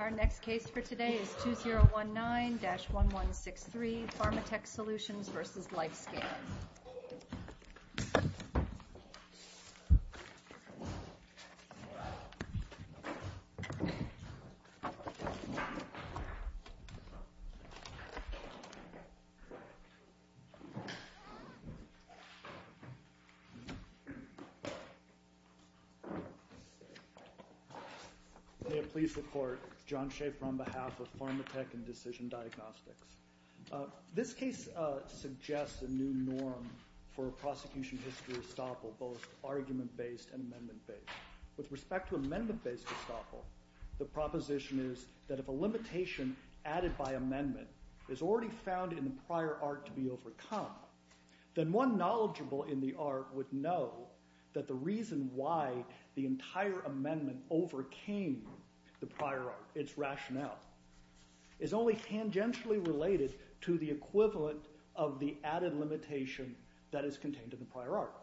Our next case for today is 2019-1163, Pharma Tech Solutions v. LifeScan. May it please the court, John Schaefer on behalf of Pharma Tech and Decision Diagnostics. This case suggests a new norm for a prosecution history estoppel, both argument-based and amendment-based. With respect to amendment-based estoppel, the proposition is that if a limitation added by amendment is already found in the prior art to be overcome, then one knowledgeable in the art would know that the reason why the entire amendment overcame the prior art, its rationale, is only tangentially related to the equivalent of the added limitation that is contained in the prior art.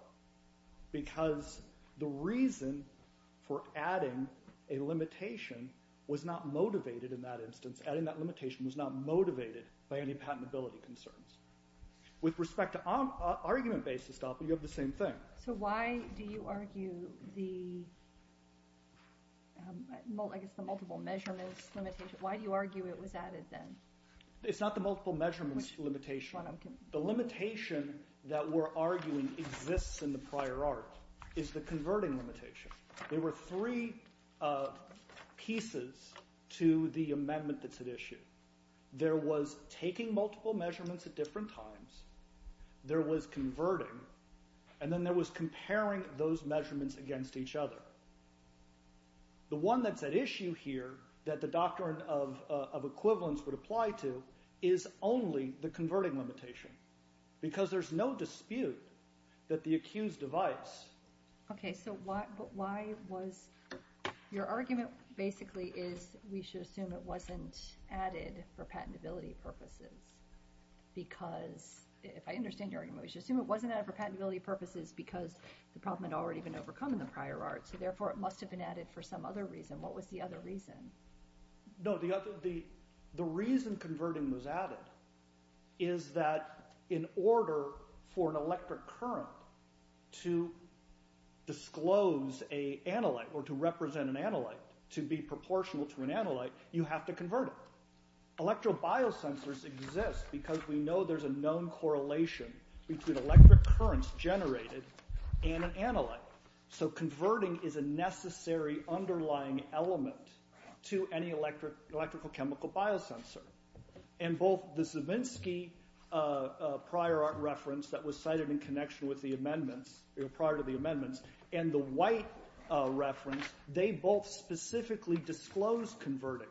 Because the reason for adding a limitation was not motivated in that instance. Adding that limitation was not motivated by any patentability concerns. With respect to argument-based estoppel, you have the same thing. So why do you argue the multiple measurements limitation? Why do you argue it was added then? It's not the multiple measurements limitation. The limitation that we're arguing exists in the prior art is the converting limitation. There were three pieces to the amendment that's at issue. There was taking multiple measurements at different times, there was converting, and then there was comparing those measurements against each other. The one that's at issue here that the doctrine of equivalence would apply to is only the converting limitation. Because there's no dispute that the accused device... Okay, so why was... your argument basically is we should assume it wasn't added for patentability purposes. Because, if I understand your argument, we should assume it wasn't added for patentability purposes because the problem had already been overcome in the prior art, so therefore it must have been added for some other reason. What was the other reason? No, the reason converting was added is that in order for an electric current to disclose an analyte or to represent an analyte, to be proportional to an analyte, you have to convert it. Electro-biosensors exist because we know there's a known correlation between electric currents generated and an analyte. So converting is a necessary underlying element to any electrical chemical biosensor. And both the Zabinski prior art reference that was cited in connection with the amendments, prior to the amendments, and the White reference, they both specifically disclose converting.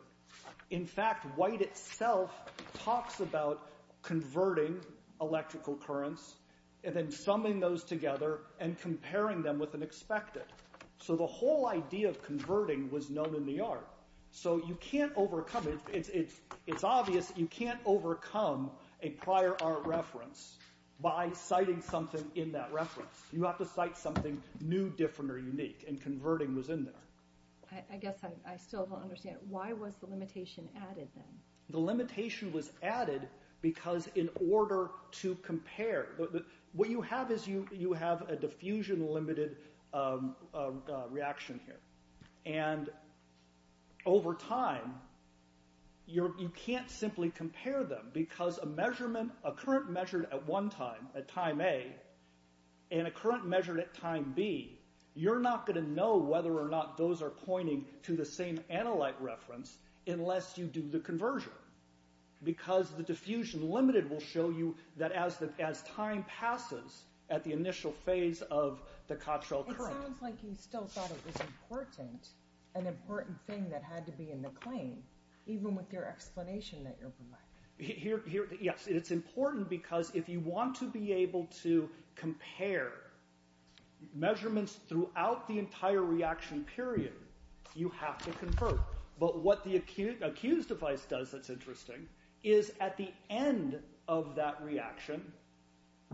In fact, White itself talks about converting electrical currents and then summing those together and comparing them with an expected. So the whole idea of converting was known in the art. So you can't overcome it. It's obvious you can't overcome a prior art reference by citing something in that reference. You have to cite something new, different, or unique, and converting was in there. I guess I still don't understand. Why was the limitation added then? The limitation was added because in order to compare. What you have is you have a diffusion limited reaction here. And over time, you can't simply compare them because a measurement, a current measured at one time, at time A, and a current measured at time B, you're not going to know whether or not those are pointing to the same analyte reference unless you do the conversion. Because the diffusion limited will show you that as time passes at the initial phase of the Cottrell current. It sounds like you still thought it was important, an important thing that had to be in the claim, even with your explanation that you're black. It's important because if you want to be able to compare measurements throughout the entire reaction period, you have to convert. But what the accused device does that's interesting is at the end of that reaction,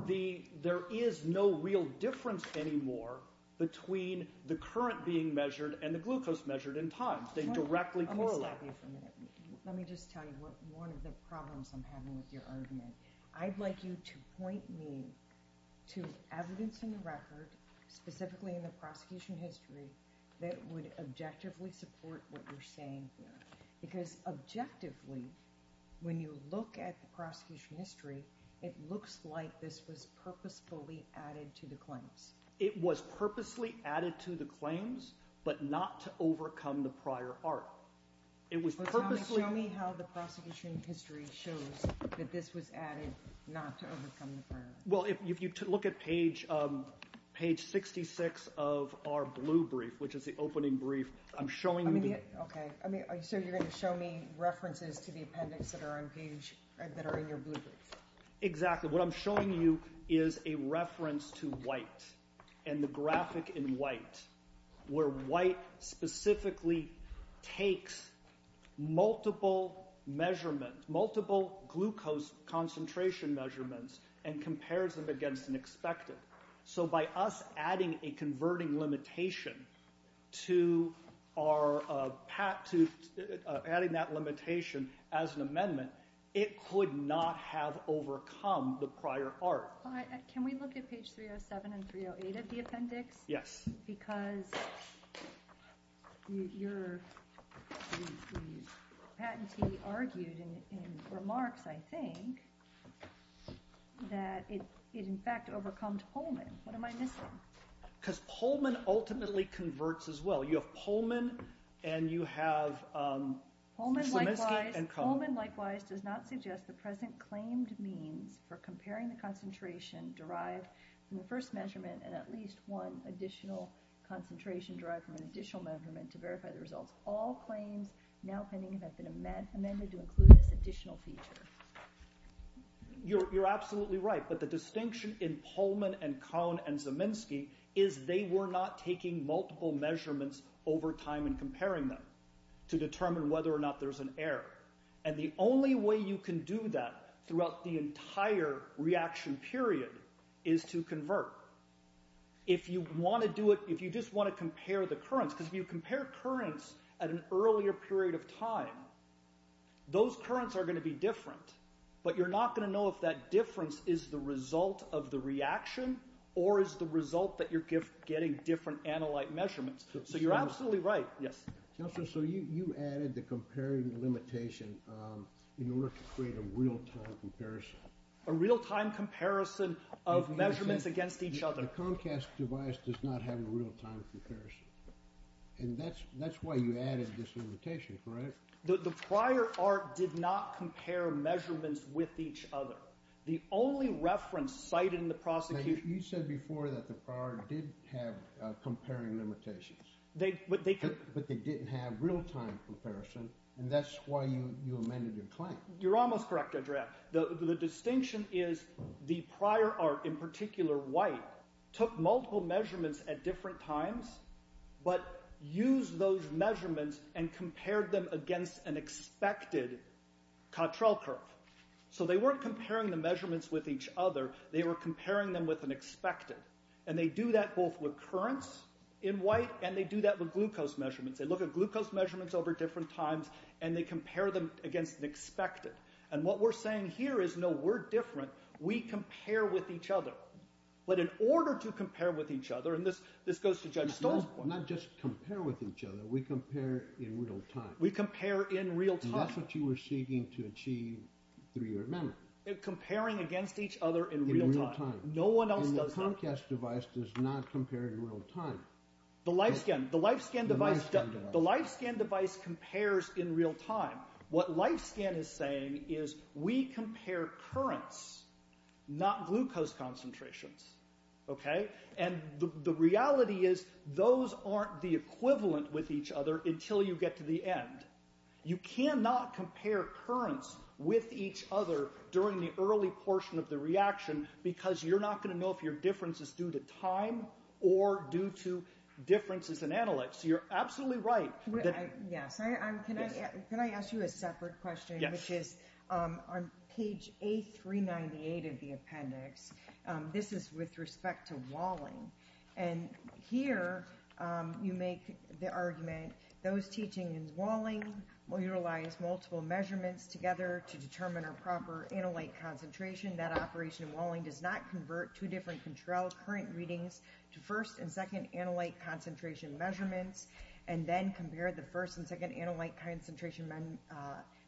there is no real difference anymore between the current being measured and the glucose measured in time. Let me just tell you one of the problems I'm having with your argument. I'd like you to point me to evidence in the record, specifically in the prosecution history, that would objectively support what you're saying here. Because objectively, when you look at the prosecution history, it looks like this was purposefully added to the claims. But not to overcome the prior art. Show me how the prosecution history shows that this was added not to overcome the prior art. Well, if you look at page 66 of our blue brief, which is the opening brief, I'm showing you... Okay, so you're going to show me references to the appendix that are in your blue brief. Exactly. What I'm showing you is a reference to white. And the graphic in white, where white specifically takes multiple glucose concentration measurements and compares them against an expected. So by us adding a converting limitation to our... adding that limitation as an amendment, it could not have overcome the prior art. Can we look at page 307 and 308 of the appendix? Yes. Because your patentee argued in remarks, I think, that it in fact overcome Pullman. What am I missing? Because Pullman ultimately converts as well. You have Pullman and you have... Pullman likewise does not suggest the present claimed means for comparing the concentration derived from the first measurement and at least one additional concentration derived from an additional measurement to verify the results. All claims now pending have been amended to include this additional feature. You're absolutely right. But the distinction in Pullman and Kohn and Zeminski is they were not taking multiple measurements over time and comparing them to determine whether or not there's an error. And the only way you can do that throughout the entire reaction period is to convert. If you want to do it... if you just want to compare the currents... because if you compare currents at an earlier period of time, those currents are going to be different. But you're not going to know if that difference is the result of the reaction or is the result that you're getting different analyte measurements. So you're absolutely right. Yes. Counselor, so you added the comparing limitation in order to create a real-time comparison. A real-time comparison of measurements against each other. The Comcast device does not have a real-time comparison. And that's why you added this limitation, correct? The prior art did not compare measurements with each other. The only reference cited in the prosecution... But they didn't have real-time comparison, and that's why you amended your claim. You're almost correct, Adriaan. The distinction is the prior art, in particular white, took multiple measurements at different times but used those measurements and compared them against an expected Cottrell curve. So they weren't comparing the measurements with each other. They were comparing them with an expected. And they do that both with currents in white, and they do that with glucose measurements. They look at glucose measurements over different times, and they compare them against an expected. And what we're saying here is, no, we're different. We compare with each other. But in order to compare with each other, and this goes to Judge Stoll's point... Not just compare with each other, we compare in real time. We compare in real time. And that's what you were seeking to achieve through your amendment. Comparing against each other in real time. No one else does that. And the Comcast device does not compare in real time. The LifeScan device compares in real time. What LifeScan is saying is, we compare currents, not glucose concentrations. And the reality is, those aren't the equivalent with each other until you get to the end. You cannot compare currents with each other during the early portion of the reaction because you're not going to know if your difference is due to time or due to differences in analyte. So you're absolutely right. Yes. Can I ask you a separate question? Which is, on page A398 of the appendix, this is with respect to walling. And here, you make the argument, those teaching in walling will utilize multiple measurements together to determine a proper analyte concentration. That operation in walling does not convert two different controlled current readings to first and second analyte concentration measurements. And then compare the first and second analyte concentration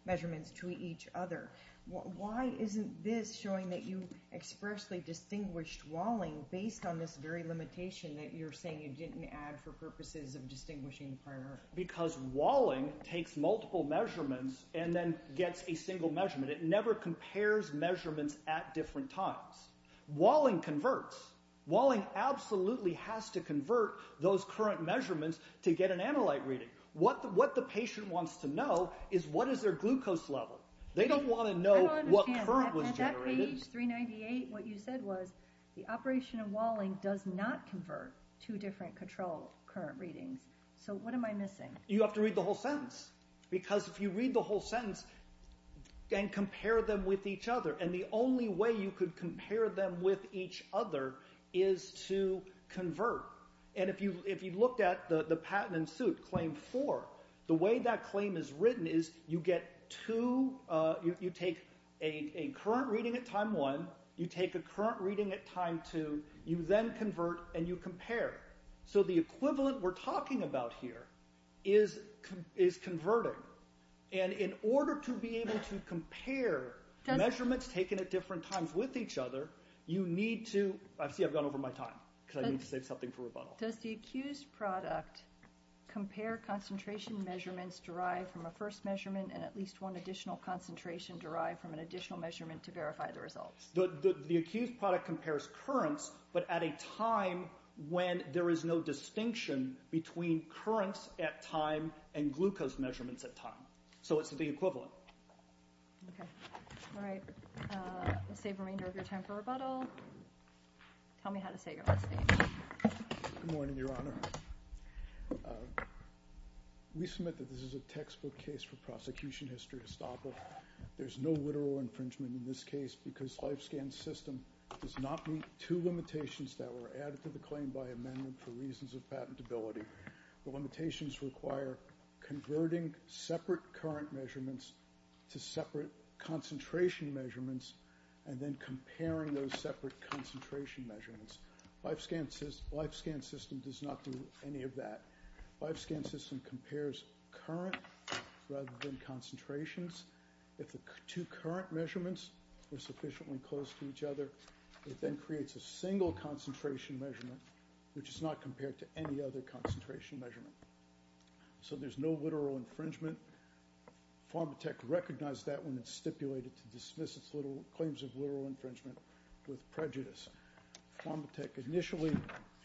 measurements to each other. Why isn't this showing that you expressly distinguished walling based on this very limitation that you're saying you didn't add for purposes of distinguishing the primary? Because walling takes multiple measurements and then gets a single measurement. It never compares measurements at different times. Walling converts. Walling absolutely has to convert those current measurements to get an analyte reading. What the patient wants to know is, what is their glucose level? They don't want to know what current was generated. I don't understand. At that page, 398, what you said was, the operation in walling does not convert two different controlled current readings. So what am I missing? You have to read the whole sentence. Because if you read the whole sentence and compare them with each other, and the only way you could compare them with each other is to convert. And if you looked at the patent in suit, claim four, the way that claim is written is, you get two, you take a current reading at time one, you take a current reading at time two, you then convert and you compare. So the equivalent we're talking about here is converting. And in order to be able to compare measurements taken at different times with each other, you need to, I see I've gone over my time because I need to save something for rebuttal. Does the accused product compare concentration measurements derived from a first measurement and at least one additional concentration derived from an additional measurement to verify the results? The accused product compares currents but at a time when there is no distinction between currents at time and glucose measurements at time. So it's the equivalent. Okay. All right. We'll save the remainder of your time for rebuttal. Tell me how to say your last name. Good morning, Your Honor. We submit that this is a textbook case for prosecution history estoppel. There's no literal infringement in this case because life scan system does not meet two limitations that were added to the claim by amendment for reasons of patentability. The limitations require converting separate current measurements to separate concentration measurements and then comparing those separate concentration measurements. Life scan system does not do any of that. Life scan system compares current rather than concentrations. If the two current measurements are sufficiently close to each other, it then creates a single concentration measurement, which is not compared to any other concentration measurement. So there's no literal infringement. Pharmatech recognized that when it stipulated to dismiss its claims of literal infringement with prejudice. Pharmatech initially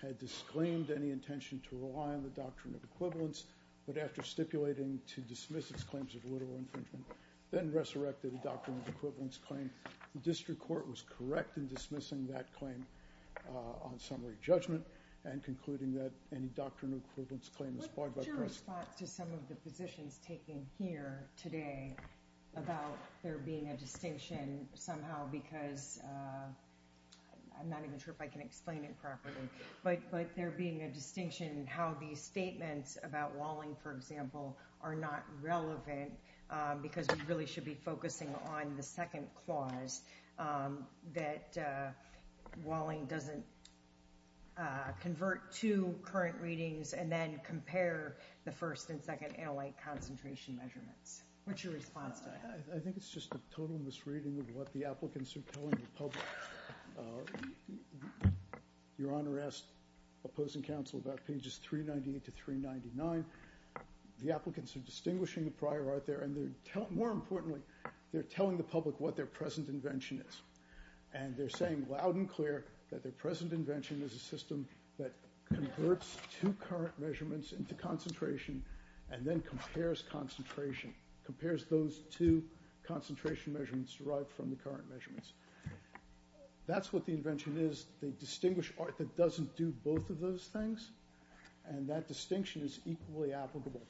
had disclaimed any intention to rely on the doctrine of equivalence, but after stipulating to dismiss its claims of literal infringement, then resurrected the doctrine of equivalence claim. The district court was correct in dismissing that claim on summary judgment and concluding that any doctrine of equivalence claim is flawed by prejudice. What's your response to some of the positions taken here today about there being a distinction somehow because I'm not even sure if I can explain it properly, but there being a distinction how these statements about Walling, for example, are not relevant because we really should be focusing on the second clause that Walling doesn't convert two current readings and then compare the first and second analyte concentration measurements. What's your response to that? I think it's just a total misreading of what the applicants are telling the public. Your Honor asked opposing counsel about pages 398 to 399. The applicants are distinguishing the prior art there, and more importantly, they're telling the public what their present invention is, and they're saying loud and clear that their present invention is a system that converts two current measurements into concentration and then compares concentration, compares those two concentration measurements derived from the current measurements. That's what the invention is. They distinguish art that doesn't do both of those things, and that distinction is equally applicable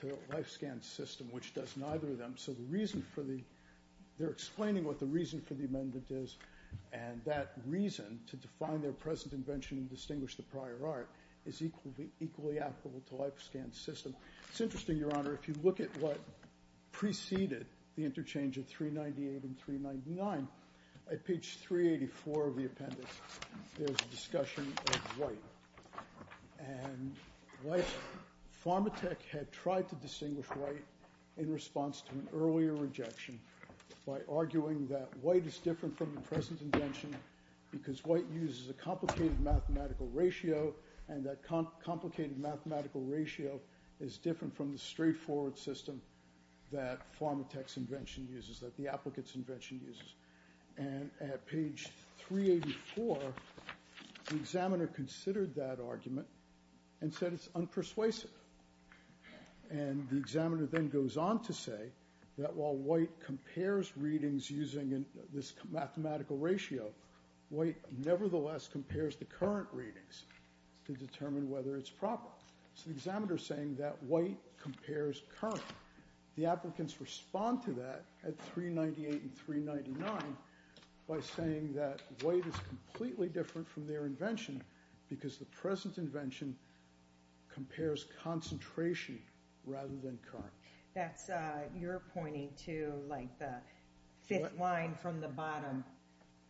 to a life-scan system which does neither of them. So the reason for the – they're explaining what the reason for the amendment is, and that reason to define their present invention and distinguish the prior art is equally applicable to life-scan system. It's interesting, Your Honor, if you look at what preceded the interchange of 398 and 399, at page 384 of the appendix, there's a discussion of white. And white – Pharmatech had tried to distinguish white in response to an earlier rejection by arguing that white is different from the present invention because white uses a complicated mathematical ratio, and that complicated mathematical ratio is different from the straightforward system that Pharmatech's invention uses, that the applicant's invention uses. And at page 384, the examiner considered that argument and said it's unpersuasive. And the examiner then goes on to say that while white compares readings using this mathematical ratio, white nevertheless compares the current readings to determine whether it's proper. So the examiner is saying that white compares current. The applicants respond to that at 398 and 399 by saying that white is completely different from their invention because the present invention compares concentration rather than current. That's – you're pointing to, like, the fifth line from the bottom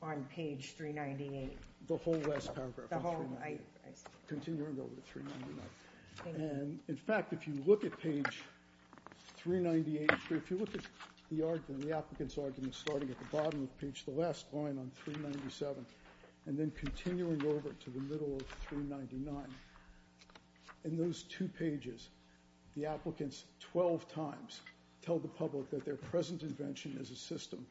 on page 398. The whole last paragraph. The whole – I see. Continuing over to 399. And, in fact, if you look at page 398, if you look at the argument, the applicant's argument starting at the bottom of page – the last line on 397 and then continuing over to the middle of 399, in those two pages, the applicants 12 times tell the public that their present invention is a system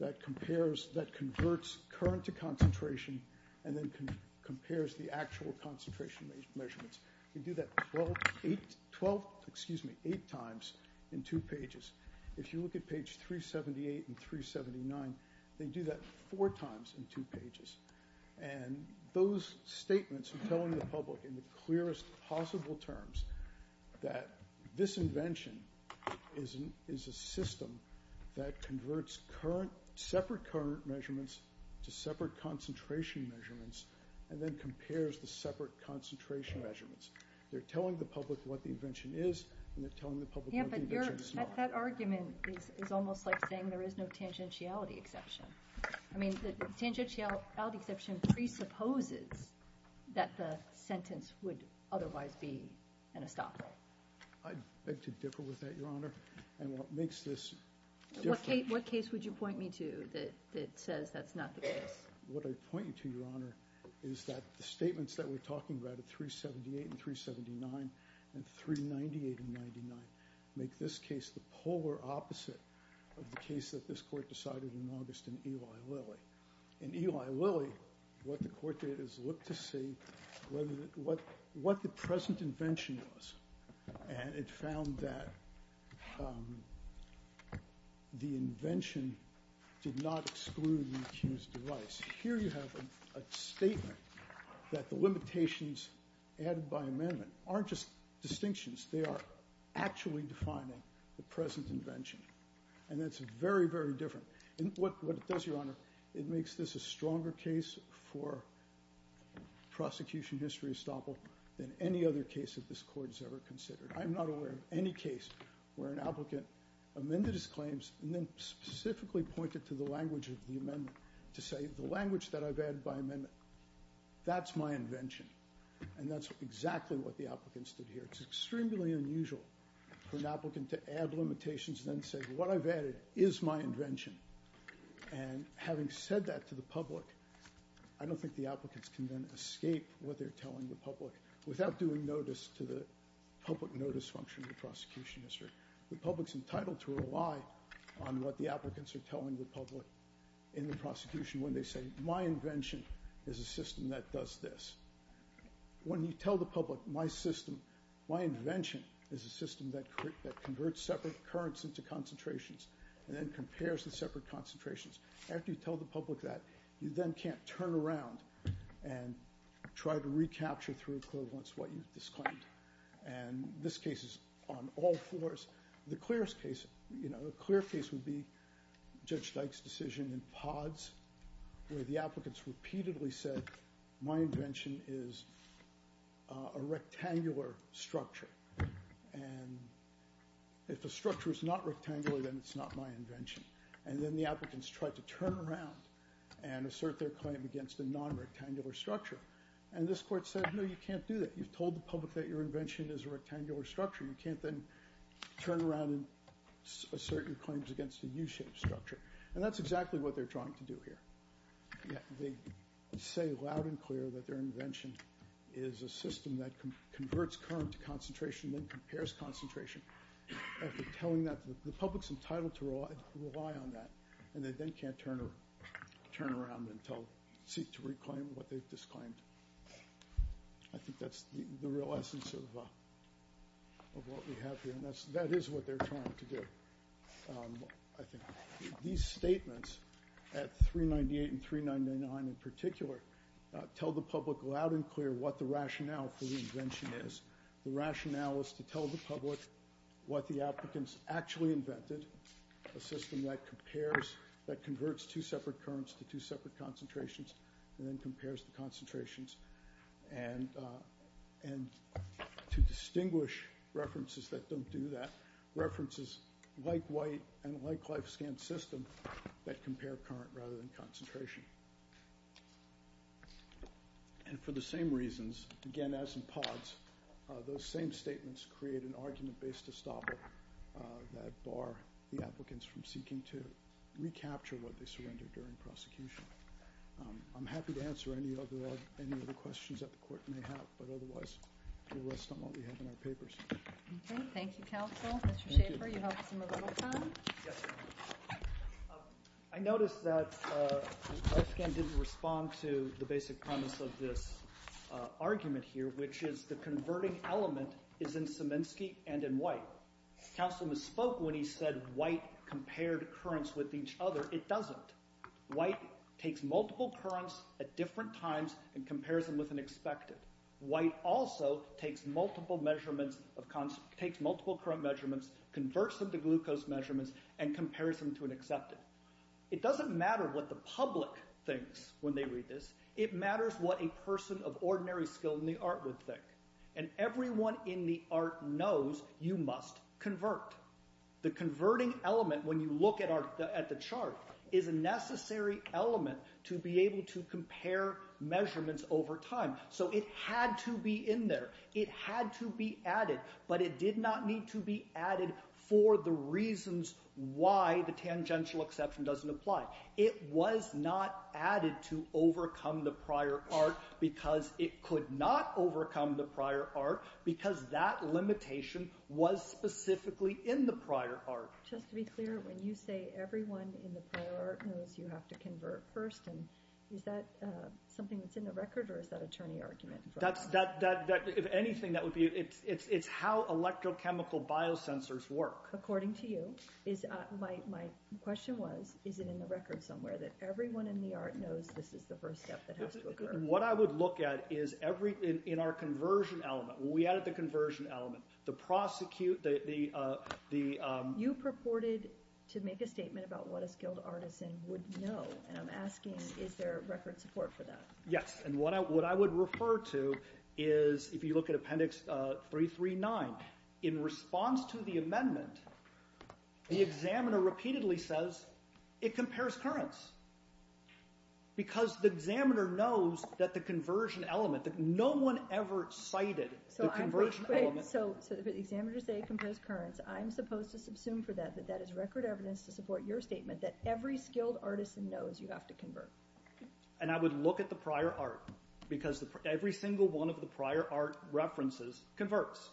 that compares – that converts current to concentration and then compares the actual concentration measurements. They do that 12 – 8 – 12 – excuse me – 8 times in two pages. If you look at page 378 and 379, they do that four times in two pages. And those statements are telling the public in the clearest possible terms that this invention is a system that converts current – separate current measurements to separate concentration measurements and then compares the separate concentration measurements. They're telling the public what the invention is, and they're telling the public what the invention is not. Yeah, but your – that argument is almost like saying there is no tangentiality exception. I mean, the tangentiality exception presupposes that the sentence would otherwise be an estoppel. I beg to differ with that, Your Honor, and what makes this different – What case would you point me to that says that's not the case? What I'd point you to, Your Honor, is that the statements that we're talking about at 378 and 379 and 398 and 399 make this case the polar opposite of the case that this court decided in August in Eli Lilly. In Eli Lilly, what the court did is look to see what the present invention was, and it found that the invention did not exclude the accused device. Here you have a statement that the limitations added by amendment aren't just distinctions. They are actually defining the present invention, and that's very, very different. And what it does, Your Honor, it makes this a stronger case for prosecution history estoppel than any other case that this court has ever considered. I'm not aware of any case where an applicant amended his claims and then specifically pointed to the language of the amendment to say the language that I've added by amendment, that's my invention, and that's exactly what the applicants did here. It's extremely unusual for an applicant to add limitations and then say what I've added is my invention. And having said that to the public, I don't think the applicants can then escape what they're telling the public without doing notice to the public notice function of the prosecution history. The public's entitled to rely on what the applicants are telling the public in the prosecution when they say my invention is a system that does this. When you tell the public my invention is a system that converts separate currents into concentrations and then compares the separate concentrations, after you tell the public that, you then can't turn around and try to recapture through equivalence what you've disclaimed. And this case is on all floors. The clearest case would be Judge Dyke's decision in Pods where the applicants repeatedly said my invention is a rectangular structure. And if the structure is not rectangular, then it's not my invention. And then the applicants tried to turn around and assert their claim against a non-rectangular structure. And this court said, no, you can't do that. You've told the public that your invention is a rectangular structure. You can't then turn around and assert your claims against a U-shaped structure. And that's exactly what they're trying to do here. They say loud and clear that their invention is a system that converts current to concentration and then compares concentration. After telling that, the public's entitled to rely on that. And they then can't turn around and seek to reclaim what they've disclaimed. I think that's the real essence of what we have here. And that is what they're trying to do, I think. These statements at 398 and 399 in particular tell the public loud and clear what the rationale for the invention is. The rationale is to tell the public what the applicants actually invented, a system that compares, that converts two separate currents to two separate concentrations and then compares the concentrations. And to distinguish references that don't do that, references like White and like Lifescan System that compare current rather than concentration. And for the same reasons, again, as in Pods, those same statements create an argument-based estoppel that bar the applicants from seeking to recapture what they surrendered during prosecution. I'm happy to answer any other questions that the court may have, but otherwise we'll rest on what we have in our papers. Okay. Thank you, counsel. Mr. Schaffer, you helped us a little time. Yes, ma'am. I noticed that Lifescan didn't respond to the basic premise of this argument here, which is the converting element is in Szymanski and in White. Counsel misspoke when he said White compared currents with each other. It doesn't. White takes multiple currents at different times and compares them with an expected. White also takes multiple current measurements, converts them to glucose measurements, and compares them to an accepted. It doesn't matter what the public thinks when they read this. It matters what a person of ordinary skill in the art would think. And everyone in the art knows you must convert. The converting element, when you look at the chart, is a necessary element to be able to compare measurements over time. So it had to be in there. It had to be added, but it did not need to be added for the reasons why the tangential exception doesn't apply. It was not added to overcome the prior art because it could not overcome the prior art because that limitation was specifically in the prior art. Just to be clear, when you say everyone in the prior art knows you have to convert first, is that something that's in the record or is that a turning argument? If anything, it's how electrochemical biosensors work. According to you. My question was, is it in the record somewhere that everyone in the art knows this is the first step that has to occur? What I would look at is in our conversion element, when we added the conversion element, the prosecute... You purported to make a statement about what a skilled artisan would know, and I'm asking, is there record support for that? Yes, and what I would refer to is, if you look at Appendix 339, in response to the amendment, the examiner repeatedly says, it compares currents. Because the examiner knows that the conversion element, that no one ever cited the conversion element... So the examiners say it compares currents, I'm supposed to subsume for that that that is record evidence to support your statement that every skilled artisan knows you have to convert. And I would look at the prior art because every single one of the prior art references converts.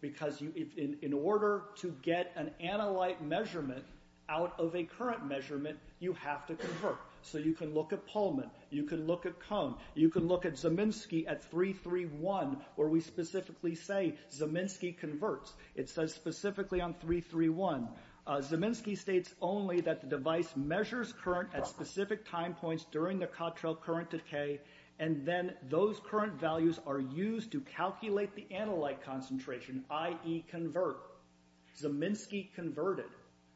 Because in order to get an analyte measurement out of a current measurement, you have to convert. So you can look at Pullman, you can look at Kohn, you can look at Zeminski at 331, where we specifically say Zeminski converts. It says specifically on 331. Zeminski states only that the device measures current at specific time points during the Cottrell current decay, and then those current values are used to calculate the analyte concentration, i.e. convert. Zeminski converted.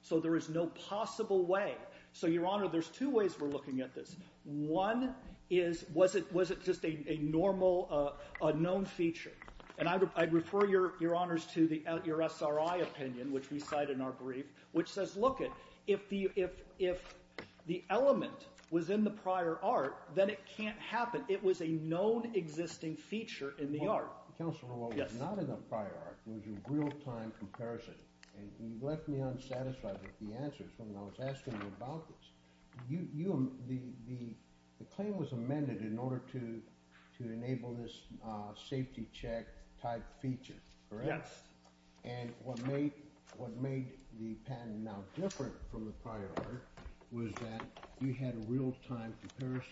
So there is no possible way. So, Your Honor, there's two ways we're looking at this. One is, was it just a normal, unknown feature? And I'd refer Your Honors to your SRI opinion, which we cite in our brief, which says, look, if the element was in the prior art, then it can't happen. It was a known existing feature in the art. Counselor, what was not in the prior art was a real-time comparison. And you left me unsatisfied with the answers when I was asking you about this. The claim was amended in order to enable this safety check type feature, correct? Yes. And what made the patent now different from the prior art was that you had a real-time comparison.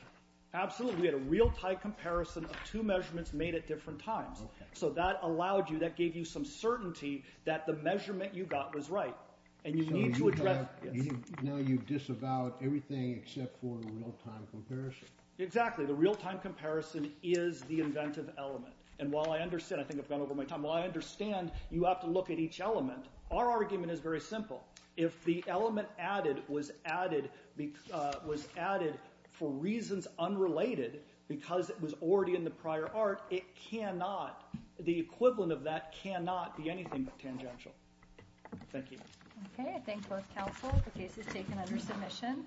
Absolutely. We had a real-time comparison of two measurements made at different times. Okay. So that allowed you, that gave you some certainty that the measurement you got was right. And you need to address this. So now you disavow everything except for the real-time comparison. Exactly. The real-time comparison is the inventive element. And while I understand, I think I've gone over my time, while I understand you have to look at each element, our argument is very simple. If the element added was added for reasons unrelated because it was already in the prior art, it cannot, the equivalent of that cannot be anything but tangential. Thank you. Okay. I thank both counsel. The case is taken under submission.